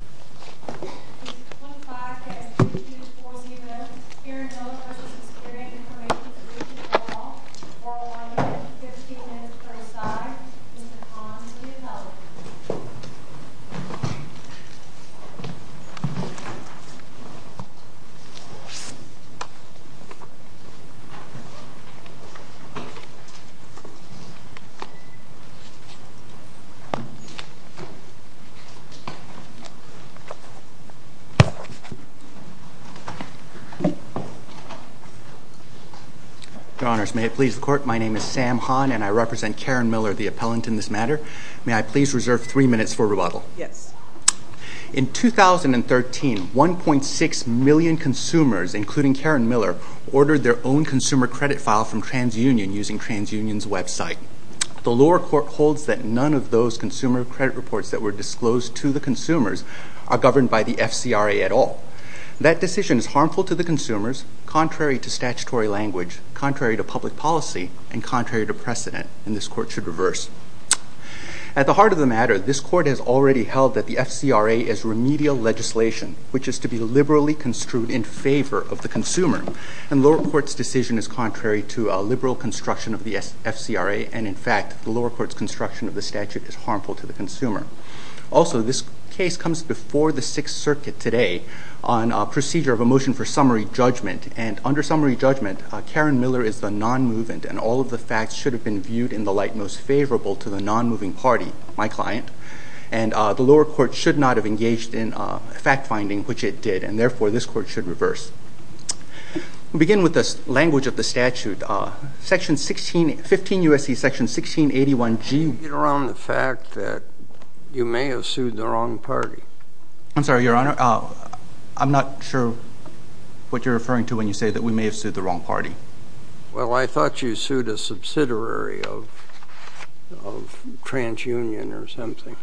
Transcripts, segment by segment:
This is the 25th day of the 2-4-0 event. Karen Miller v. Experian Information Solution call. For one minute, 15 minutes per side. Please respond if you need help. Your Honors, may it please the Court, my name is Sam Hahn and I represent Karen Miller, the appellant in this matter. May I please reserve three minutes for rebuttal? Yes. In 2013, 1.6 million consumers, including Karen Miller, ordered their own consumer credit file from TransUnion using TransUnion's website. The lower court holds that none of those consumer credit reports that were disclosed to the consumers are governed by the FCRA at all. That decision is harmful to the consumers, contrary to statutory language, contrary to public policy, and contrary to precedent, and this Court should reverse. At the heart of the matter, this Court has already held that the FCRA is remedial legislation, which is to be liberally construed in favor of the consumer. And the lower court's decision is contrary to a liberal construction of the FCRA, and in fact, the lower court's construction of the statute is harmful to the consumer. Also, this case comes before the Sixth Circuit today on a procedure of a motion for summary judgment, and under summary judgment, Karen Miller is the non-movement, and all of the facts should have been viewed in the light most favorable to the non-moving party, my client. And the lower court should not have engaged in fact-finding, which it did, and therefore this Court should reverse. We'll begin with the language of the statute, Section 16—15 U.S.C. Section 1681G. How do you get around the fact that you may have sued the wrong party? I'm sorry, Your Honor, I'm not sure what you're referring to when you say that we may have sued the wrong party. Well, I thought you sued a subsidiary of TransUnion or something.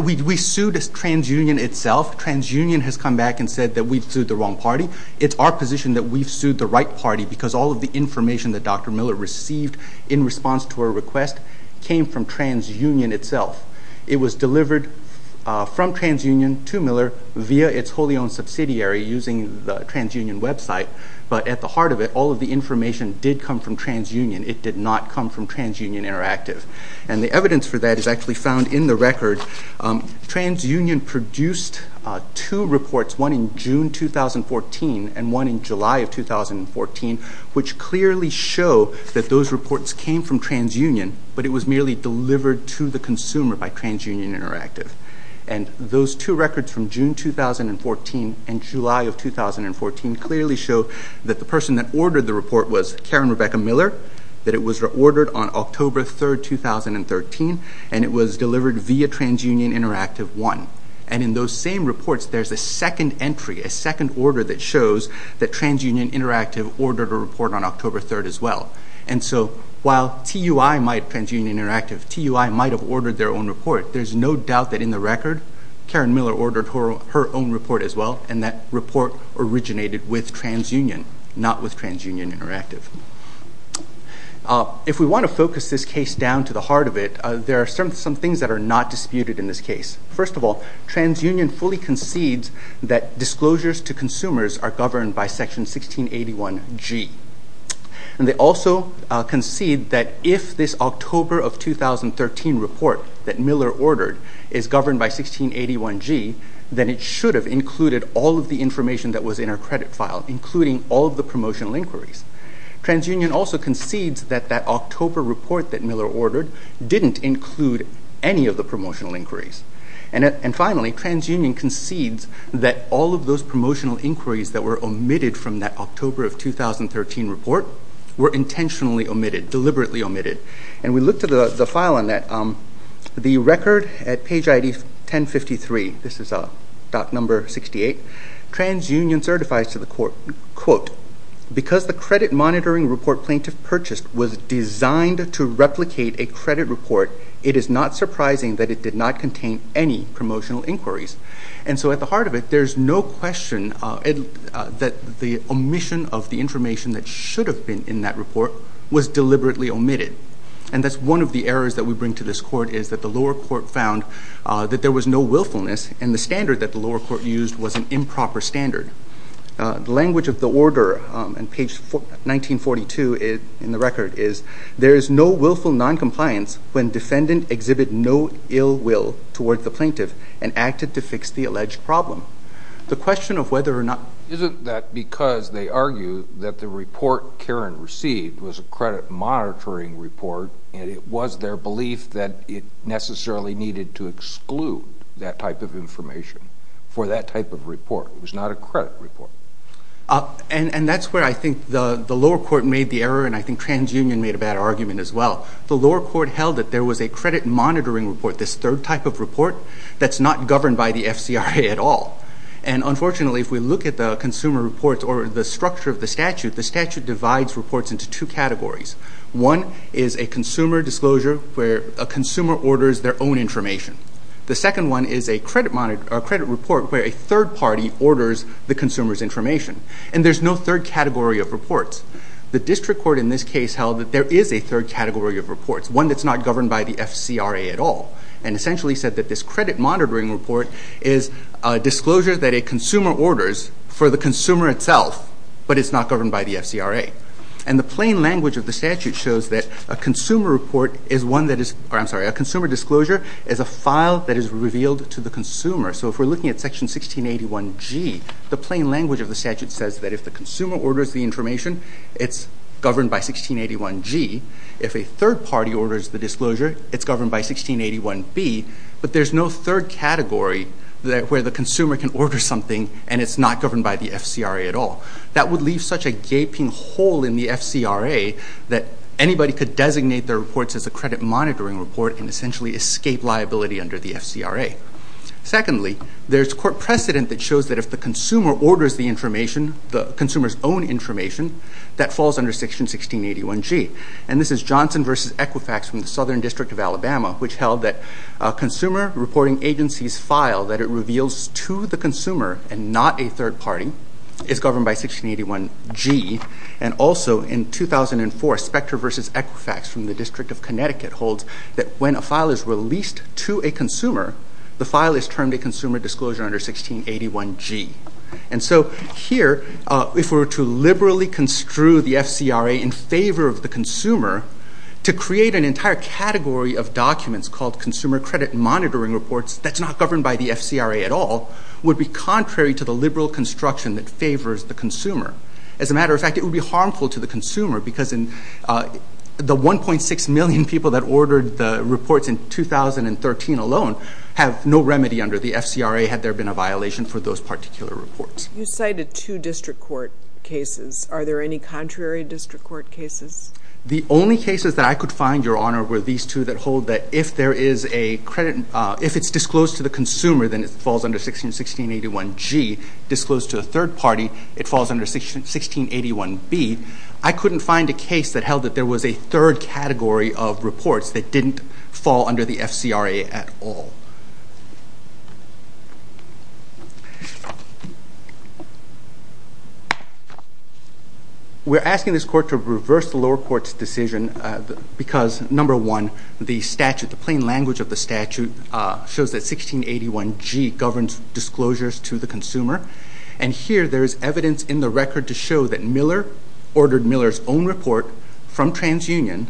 We sued TransUnion itself. TransUnion has come back and said that we've sued the wrong party. It's our position that we've sued the right party because all of the information that Dr. Miller received in response to her request came from TransUnion itself. It was delivered from TransUnion to Miller via its wholly-owned subsidiary using the TransUnion website, but at the heart of it, all of the information did come from TransUnion. It did not come from TransUnion Interactive. And the evidence for that is actually found in the record. TransUnion produced two reports, one in June 2014 and one in July of 2014, which clearly show that those reports came from TransUnion, but it was merely delivered to the consumer by TransUnion Interactive. And those two records from June 2014 and July of 2014 clearly show that the person that ordered the report was Karen Rebecca Miller, that it was ordered on October 3, 2013, and it was delivered via TransUnion Interactive 1. And in those same reports, there's a second entry, a second order that shows that TransUnion Interactive ordered a report on October 3 as well. And so while TransUnion Interactive, TUI might have ordered their own report, there's no doubt that in the record, Karen Miller ordered her own report as well, and that report originated with TransUnion, not with TransUnion Interactive. If we want to focus this case down to the heart of it, there are some things that are not disputed in this case. First of all, TransUnion fully concedes that disclosures to consumers are governed by Section 1681G. And they also concede that if this October of 2013 report that Miller ordered is governed by 1681G, then it should have included all of the information that was in her credit file, including all of the promotional inquiries. TransUnion also concedes that that October report that Miller ordered didn't include any of the promotional inquiries. And finally, TransUnion concedes that all of those promotional inquiries that were omitted from that October of 2013 report were intentionally omitted, deliberately omitted. And we looked at the file on that. The record at page ID 1053, this is doc number 68, TransUnion certifies to the court, quote, because the credit monitoring report plaintiff purchased was designed to replicate a credit report, it is not surprising that it did not contain any promotional inquiries. And so at the heart of it, there's no question that the omission of the information that should have been in that report was deliberately omitted. And that's one of the errors that we bring to this court is that the lower court found that there was no willfulness, and the standard that the lower court used was an improper standard. The language of the order on page 1942 in the record is, there is no willful noncompliance when defendant exhibit no ill will toward the plaintiff and acted to fix the alleged problem. The question of whether or not... Isn't that because they argue that the report Karen received was a credit monitoring report, and it was their belief that it necessarily needed to exclude that type of information for that type of report. It was not a credit report. And that's where I think the lower court made the error, and I think TransUnion made a bad argument as well. The lower court held that there was a credit monitoring report, this third type of report that's not governed by the FCRA at all. And unfortunately, if we look at the consumer reports or the structure of the statute, the statute divides reports into two categories. One is a consumer disclosure where a consumer orders their own information. The second one is a credit report where a third party orders the consumer's information. And there's no third category of reports. The district court in this case held that there is a third category of reports, one that's not governed by the FCRA at all, and essentially said that this credit monitoring report is a disclosure that a consumer orders for the consumer itself, but it's not governed by the FCRA. And the plain language of the statute shows that a consumer disclosure is a file that is revealed to the consumer. So if we're looking at Section 1681G, the plain language of the statute says that if the consumer orders the information, it's governed by 1681G. If a third party orders the disclosure, it's governed by 1681B. But there's no third category where the consumer can order something and it's not governed by the FCRA at all. That would leave such a gaping hole in the FCRA that anybody could designate their reports as a credit monitoring report and essentially escape liability under the FCRA. Secondly, there's court precedent that shows that if the consumer orders the information, the consumer's own information, that falls under Section 1681G. And this is Johnson v. Equifax from the Southern District of Alabama, which held that a consumer reporting agency's file that it reveals to the consumer and not a third party is governed by 1681G. And also in 2004, Spector v. Equifax from the District of Connecticut holds that when a file is released to a consumer, the file is termed a consumer disclosure under 1681G. And so here, if we were to liberally construe the FCRA in favor of the consumer, to create an entire category of documents called consumer credit monitoring reports that's not governed by the FCRA at all would be contrary to the liberal construction that favors the consumer. As a matter of fact, it would be harmful to the consumer because the 1.6 million people that ordered the reports in 2013 alone have no remedy under the FCRA had there been a violation for those particular reports. You cited two district court cases. Are there any contrary district court cases? The only cases that I could find, Your Honor, were these two that hold that if there is a credit, if it's disclosed to the consumer, then it falls under 1681G. Disclosed to a third party, it falls under 1681B. I couldn't find a case that held that there was a third category of reports that didn't fall under the FCRA at all. We're asking this court to reverse the lower court's decision because, number one, the statute, the plain language of the statute, shows that 1681G governs disclosures to the consumer, and here there is evidence in the record to show that Miller ordered Miller's own report from TransUnion,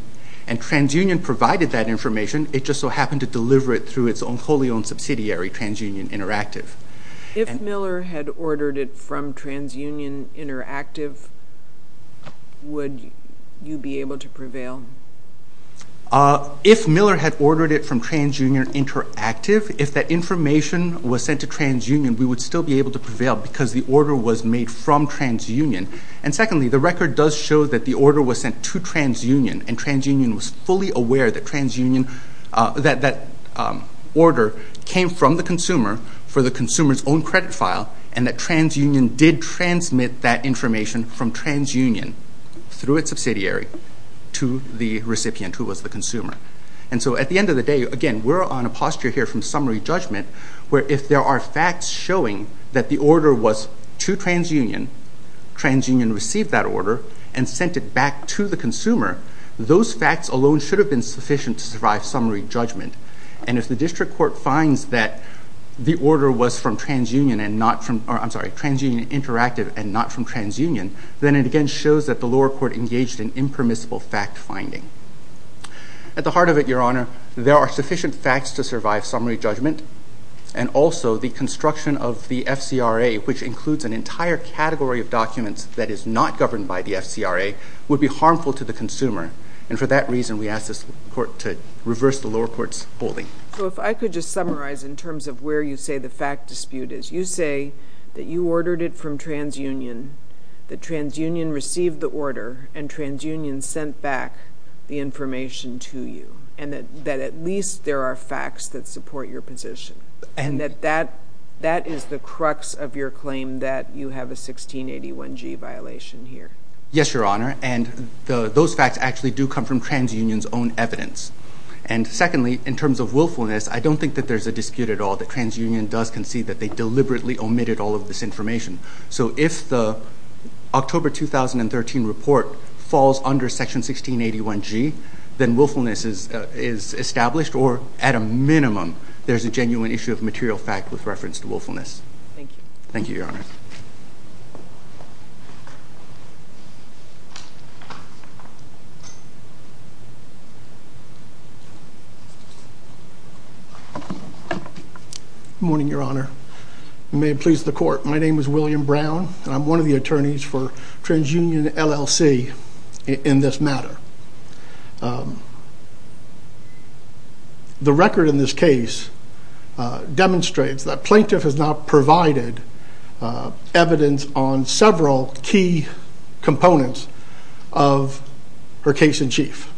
and TransUnion provided that information. It just so happened to deliver it through its own wholly owned subsidiary, TransUnion Interactive. If Miller had ordered it from TransUnion Interactive, would you be able to prevail? If Miller had ordered it from TransUnion Interactive, if that information was sent to TransUnion, we would still be able to prevail because the order was made from TransUnion. And secondly, the record does show that the order was sent to TransUnion, and TransUnion was fully aware that that order came from the consumer for the consumer's own credit file, and that TransUnion did transmit that information from TransUnion through its subsidiary to the recipient, who was the consumer. And so at the end of the day, again, we're on a posture here from summary judgment, where if there are facts showing that the order was to TransUnion, TransUnion received that order and sent it back to the consumer, those facts alone should have been sufficient to survive summary judgment. And if the district court finds that the order was from TransUnion Interactive and not from TransUnion, then it again shows that the lower court engaged in impermissible fact finding. At the heart of it, Your Honor, there are sufficient facts to survive summary judgment, and also the construction of the FCRA, which includes an entire category of documents that is not governed by the FCRA, would be harmful to the consumer. And for that reason, we ask this court to reverse the lower court's holding. So if I could just summarize in terms of where you say the fact dispute is. You say that you ordered it from TransUnion, that TransUnion received the order, and TransUnion sent back the information to you, and that at least there are facts that support your position, and that that is the crux of your claim that you have a 1681G violation here. Yes, Your Honor, and those facts actually do come from TransUnion's own evidence. And secondly, in terms of willfulness, I don't think that there's a dispute at all that TransUnion does concede that they deliberately omitted all of this information. So if the October 2013 report falls under Section 1681G, then willfulness is established, or at a minimum, there's a genuine issue of material fact with reference to willfulness. Thank you. Thank you, Your Honor. Good morning, Your Honor. May it please the court, my name is William Brown, and I'm one of the attorneys for TransUnion LLC in this matter. The record in this case demonstrates that plaintiff has not provided evidence on several key components of her case-in-chief.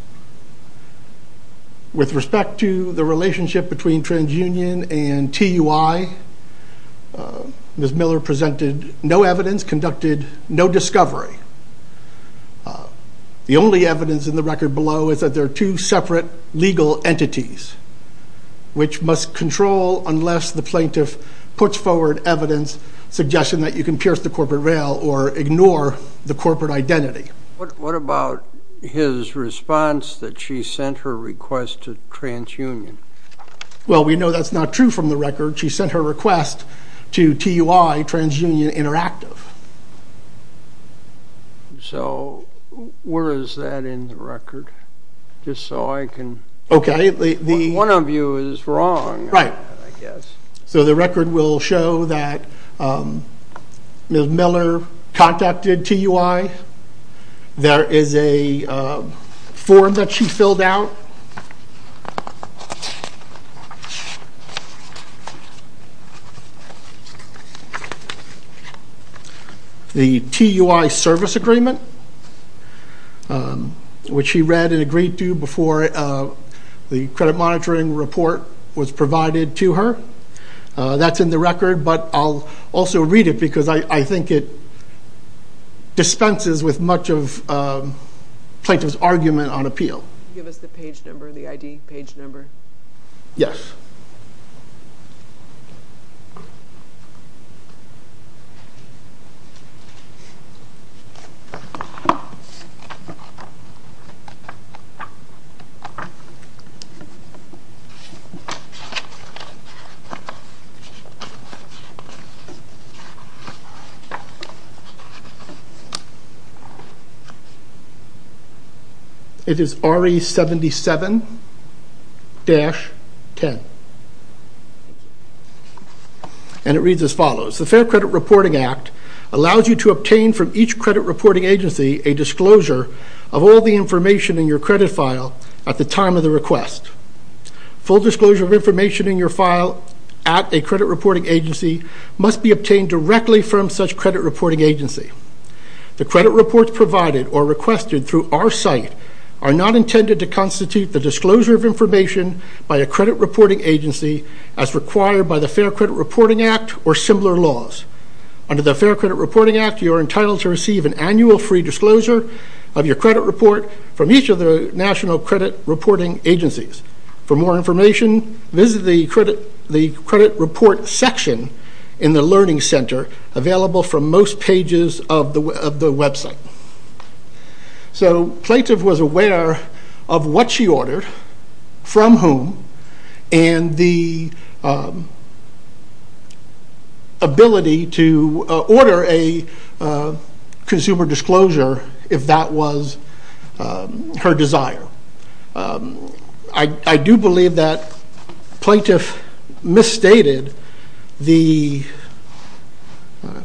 With respect to the relationship between TransUnion and TUI, Ms. Miller presented no evidence, conducted no discovery. The only evidence in the record below is that there are two separate legal entities, which must control unless the plaintiff puts forward evidence suggesting that you can pierce the corporate rail or ignore the corporate identity. What about his response that she sent her request to TransUnion? Well, we know that's not true from the record. She sent her request to TUI, TransUnion Interactive. So where is that in the record? Just so I can... One of you is wrong, I guess. Right. So the record will show that Ms. Miller contacted TUI. There is a form that she filled out. The TUI service agreement, which she read and agreed to before the credit monitoring report was provided to her. That's in the record, but I'll also read it because I think it dispenses with much of the plaintiff's argument on appeal. Can you give us the page number, the ID page number? Yes. It is RE77-10, and it reads as follows. The Fair Credit Reporting Act allows you to obtain from each credit reporting agency a disclosure of all the information in your credit file at the time of the request. Full disclosure of information in your file at a credit reporting agency must be obtained directly from such credit reporting agency. The credit reports provided or requested through our site are not intended to constitute the disclosure of information by a credit reporting agency as required by the Fair Credit Reporting Act or similar laws. Under the Fair Credit Reporting Act, you are entitled to receive an annual free disclosure of your credit report from each of the national credit reporting agencies. For more information, visit the credit report section in the learning center available from most pages of the website. So plaintiff was aware of what she ordered, from whom, and the ability to order a consumer disclosure if that was her desire. I do believe that plaintiff misstated the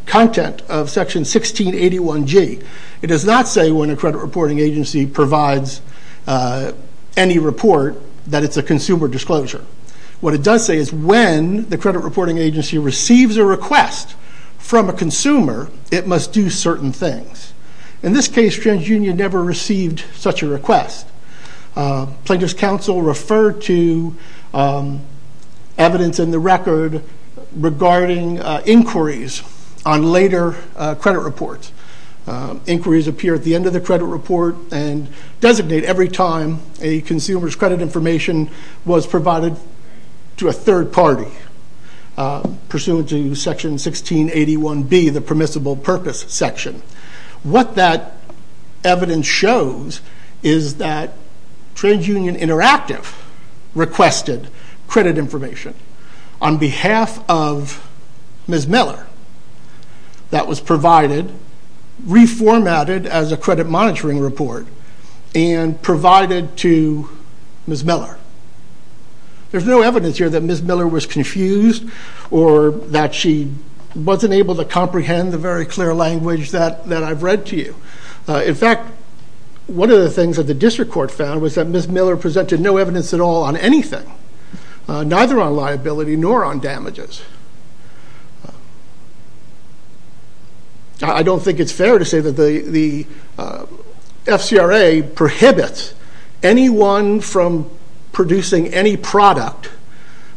content of Section 1681G. It does not say when a credit reporting agency provides any report that it's a consumer disclosure. What it does say is when the credit reporting agency receives a request from a consumer, it must do certain things. In this case, TransUnion never received such a request. Plaintiff's counsel referred to evidence in the record regarding inquiries on later credit reports. Inquiries appear at the end of the credit report and designate every time a consumer's credit information was provided to a third party. Pursuant to Section 1681B, the permissible purpose section, what that evidence shows is that TransUnion Interactive requested credit information on behalf of Ms. Miller that was provided, reformatted as a credit monitoring report, and provided to Ms. Miller. There's no evidence here that Ms. Miller was confused or that she wasn't able to comprehend the very clear language that I've read to you. In fact, one of the things that the district court found was that Ms. Miller presented no evidence at all on anything, neither on liability nor on damages. I don't think it's fair to say that the FCRA prohibits anyone from producing any product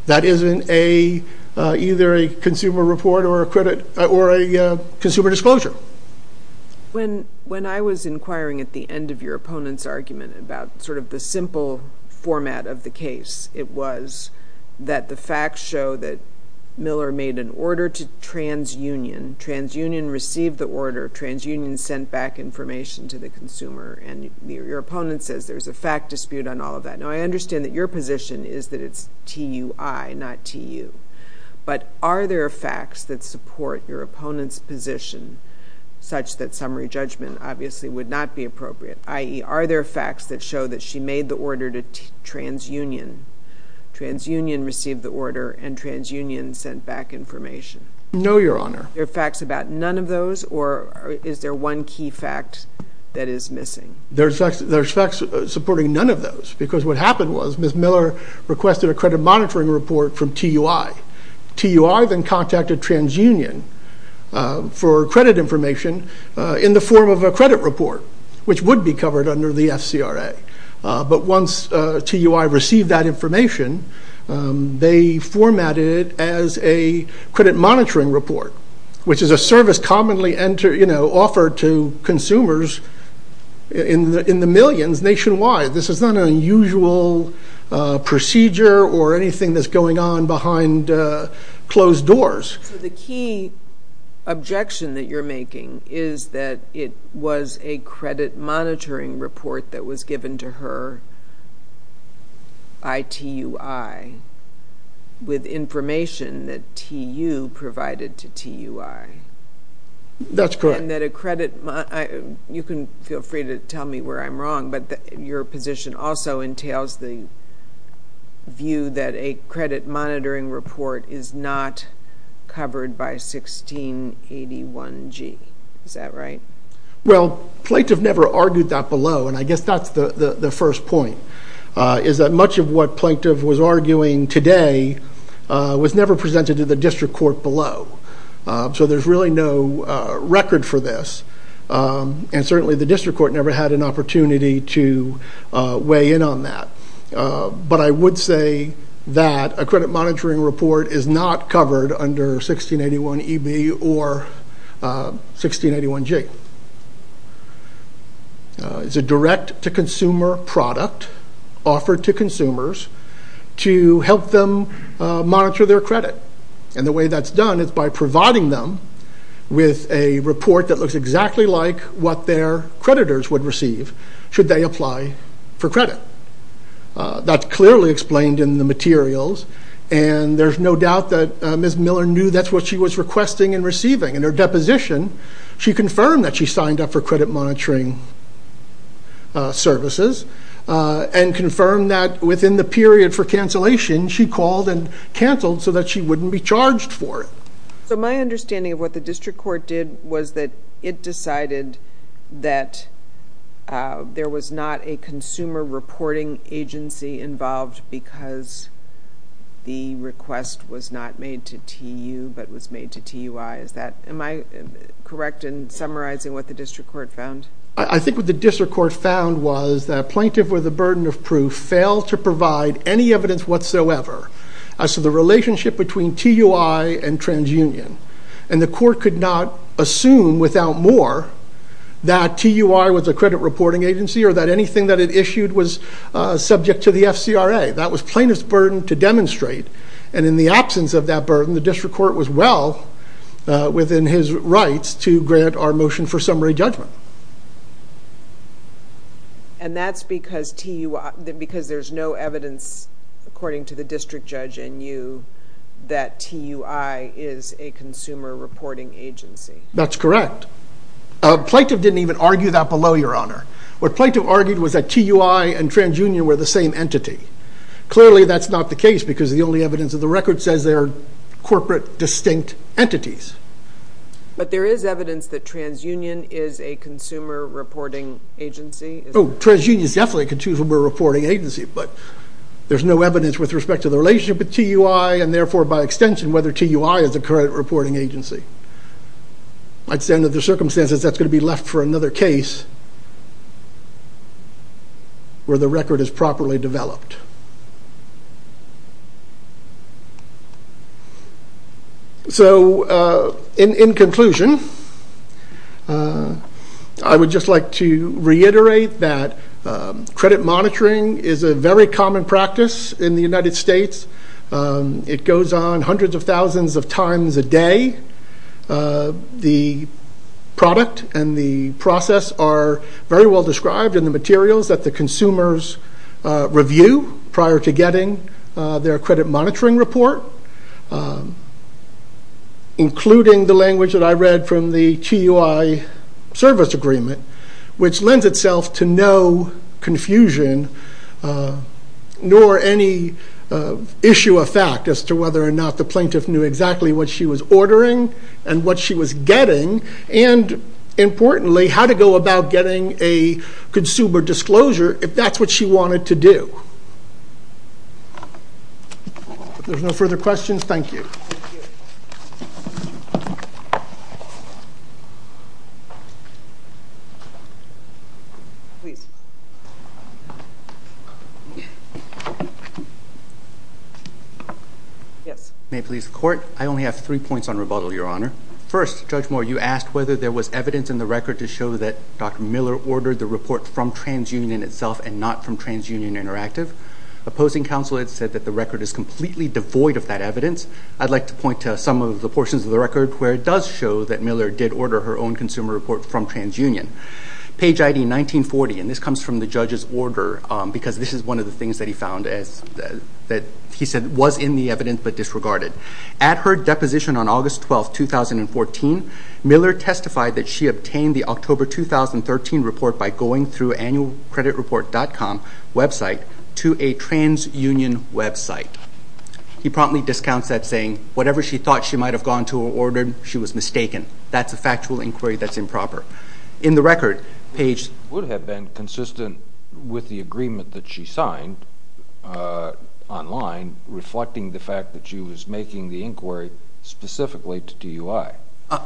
that isn't either a consumer report or a consumer disclosure. When I was inquiring at the end of your opponent's argument about sort of the simple format of the case, it was that the facts show that Miller made an order to TransUnion, TransUnion received the order, TransUnion sent back information to the consumer, and your opponent says there's a fact dispute on all of that. Now, I understand that your position is that it's TUI, not TU, but are there facts that support your opponent's position such that summary judgment obviously would not be appropriate, i.e., are there facts that show that she made the order to TransUnion, TransUnion received the order, and TransUnion sent back information? No, Your Honor. Are there facts about none of those, or is there one key fact that is missing? There's facts supporting none of those, because what happened was Ms. Miller requested a credit monitoring report from TUI. TUI then contacted TransUnion for credit information in the form of a credit report, which would be covered under the FCRA. But once TUI received that information, they formatted it as a credit monitoring report, which is a service commonly offered to consumers in the millions nationwide. This is not an unusual procedure or anything that's going on behind closed doors. So the key objection that you're making is that it was a credit monitoring report that was given to her by TUI with information that TU provided to TUI. That's correct. And that a credit—you can feel free to tell me where I'm wrong, but your position also entails the view that a credit monitoring report is not covered by 1681G. Is that right? Well, Plaintiff never argued that below, and I guess that's the first point, is that much of what Plaintiff was arguing today was never presented to the district court below. So there's really no record for this, and certainly the district court never had an opportunity to weigh in on that. But I would say that a credit monitoring report is not covered under 1681EB or 1681G. It's a direct-to-consumer product offered to consumers to help them monitor their credit. And the way that's done is by providing them with a report that looks exactly like what their creditors would receive should they apply for credit. That's clearly explained in the materials, and there's no doubt that Ms. Miller knew that's what she was requesting and receiving. In her deposition, she confirmed that she signed up for credit monitoring services and confirmed that within the period for cancellation, she called and canceled so that she wouldn't be charged for it. So my understanding of what the district court did was that it decided that there was not a consumer reporting agency involved because the request was not made to TU but was made to TUI. Am I correct in summarizing what the district court found? I think what the district court found was that a plaintiff with a burden of proof failed to provide any evidence whatsoever as to the relationship between TUI and TransUnion. And the court could not assume without more that TUI was a credit reporting agency or that anything that it issued was subject to the FCRA. That was plaintiff's burden to demonstrate, and in the absence of that burden, the district court was well within his rights to grant our motion for summary judgment. And that's because there's no evidence, according to the district judge and you, that TUI is a consumer reporting agency. That's correct. Plaintiff didn't even argue that below, Your Honor. What plaintiff argued was that TUI and TransUnion were the same entity. Clearly, that's not the case because the only evidence of the record says they are corporate distinct entities. But there is evidence that TransUnion is a consumer reporting agency. Oh, TransUnion is definitely a consumer reporting agency, but there's no evidence with respect to the relationship with TUI and therefore, by extension, whether TUI is a credit reporting agency. I'd say under the circumstances, that's going to be left for another case where the record is properly developed. So, in conclusion, I would just like to reiterate that credit monitoring is a very common practice in the United States. It goes on hundreds of thousands of times a day. The product and the process are very well described in the materials that the consumers review prior to getting their credit monitoring report, including the language that I read from the TUI service agreement, which lends itself to no confusion nor any issue of fact as to whether or not the plaintiff knew exactly what she was ordering and what she was getting and, importantly, how to go about getting a consumer disclosure if that's what she wanted to do. If there's no further questions, thank you. Please. May it please the Court. I only have three points on rebuttal, Your Honor. First, Judge Moore, you asked whether there was evidence in the record to show that Dr. Miller ordered the report from TransUnion in itself and not from TransUnion Interactive. Opposing counsel had said that the record is completely devoid of that evidence. I'd like to point to some of the portions of the record where it does show that Miller did order her own consumer report from TransUnion. Page ID 1940, and this comes from the judge's order because this is one of the things that he found that he said was in the evidence but disregarded. At her deposition on August 12, 2014, Miller testified that she obtained the October 2013 report by going through annualcreditreport.com website to a TransUnion website. He promptly discounts that, saying, whatever she thought she might have gone to or ordered, she was mistaken. That's a factual inquiry that's improper. In the record, Page— It would have been consistent with the agreement that she signed online, reflecting the fact that she was making the inquiry specifically to DUI.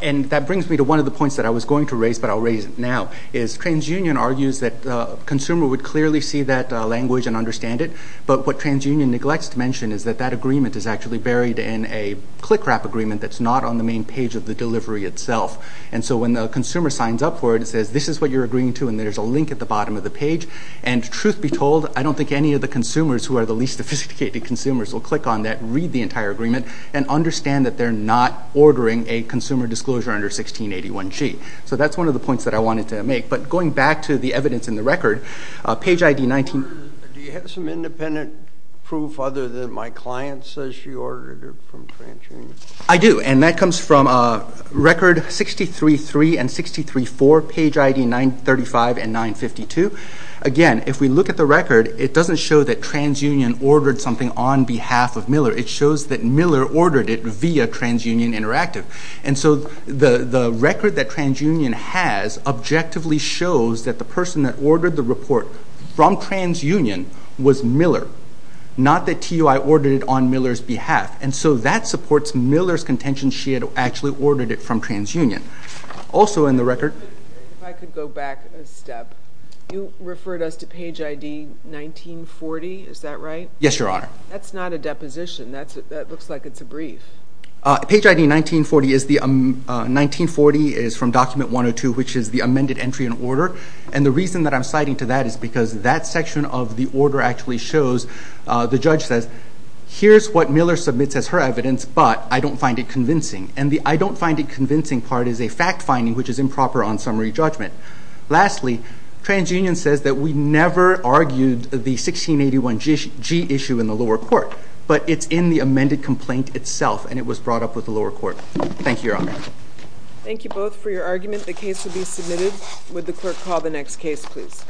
And that brings me to one of the points that I was going to raise, but I'll raise it now, is TransUnion argues that a consumer would clearly see that language and understand it, but what TransUnion neglects to mention is that that agreement is actually buried in a click-wrap agreement that's not on the main page of the delivery itself. And so when the consumer signs up for it, it says, this is what you're agreeing to, and there's a link at the bottom of the page. And truth be told, I don't think any of the consumers who are the least sophisticated consumers will click on that, read the entire agreement, and understand that they're not ordering a consumer disclosure under 1681G. So that's one of the points that I wanted to make. But going back to the evidence in the record, Page ID 19— Do you have some independent proof other than my client says she ordered it from TransUnion? I do, and that comes from Record 63-3 and 63-4, Page ID 935 and 952. Again, if we look at the record, it doesn't show that TransUnion ordered something on behalf of Miller. It shows that Miller ordered it via TransUnion Interactive. And so the record that TransUnion has objectively shows that the person that ordered the report from TransUnion was Miller, not that TUI ordered it on Miller's behalf. And so that supports Miller's contention she had actually ordered it from TransUnion. Also in the record— If I could go back a step. You referred us to Page ID 1940, is that right? Yes, Your Honor. That's not a deposition. That looks like it's a brief. Page ID 1940 is from Document 102, which is the amended entry in order. And the reason that I'm citing to that is because that section of the order actually shows, the judge says, here's what Miller submits as her evidence, but I don't find it convincing. And the I don't find it convincing part is a fact finding, which is improper on summary judgment. Lastly, TransUnion says that we never argued the 1681G issue in the lower court, but it's in the amended complaint itself, and it was brought up with the lower court. Thank you, Your Honor. Thank you both for your argument. The case will be submitted. Would the clerk call the next case, please?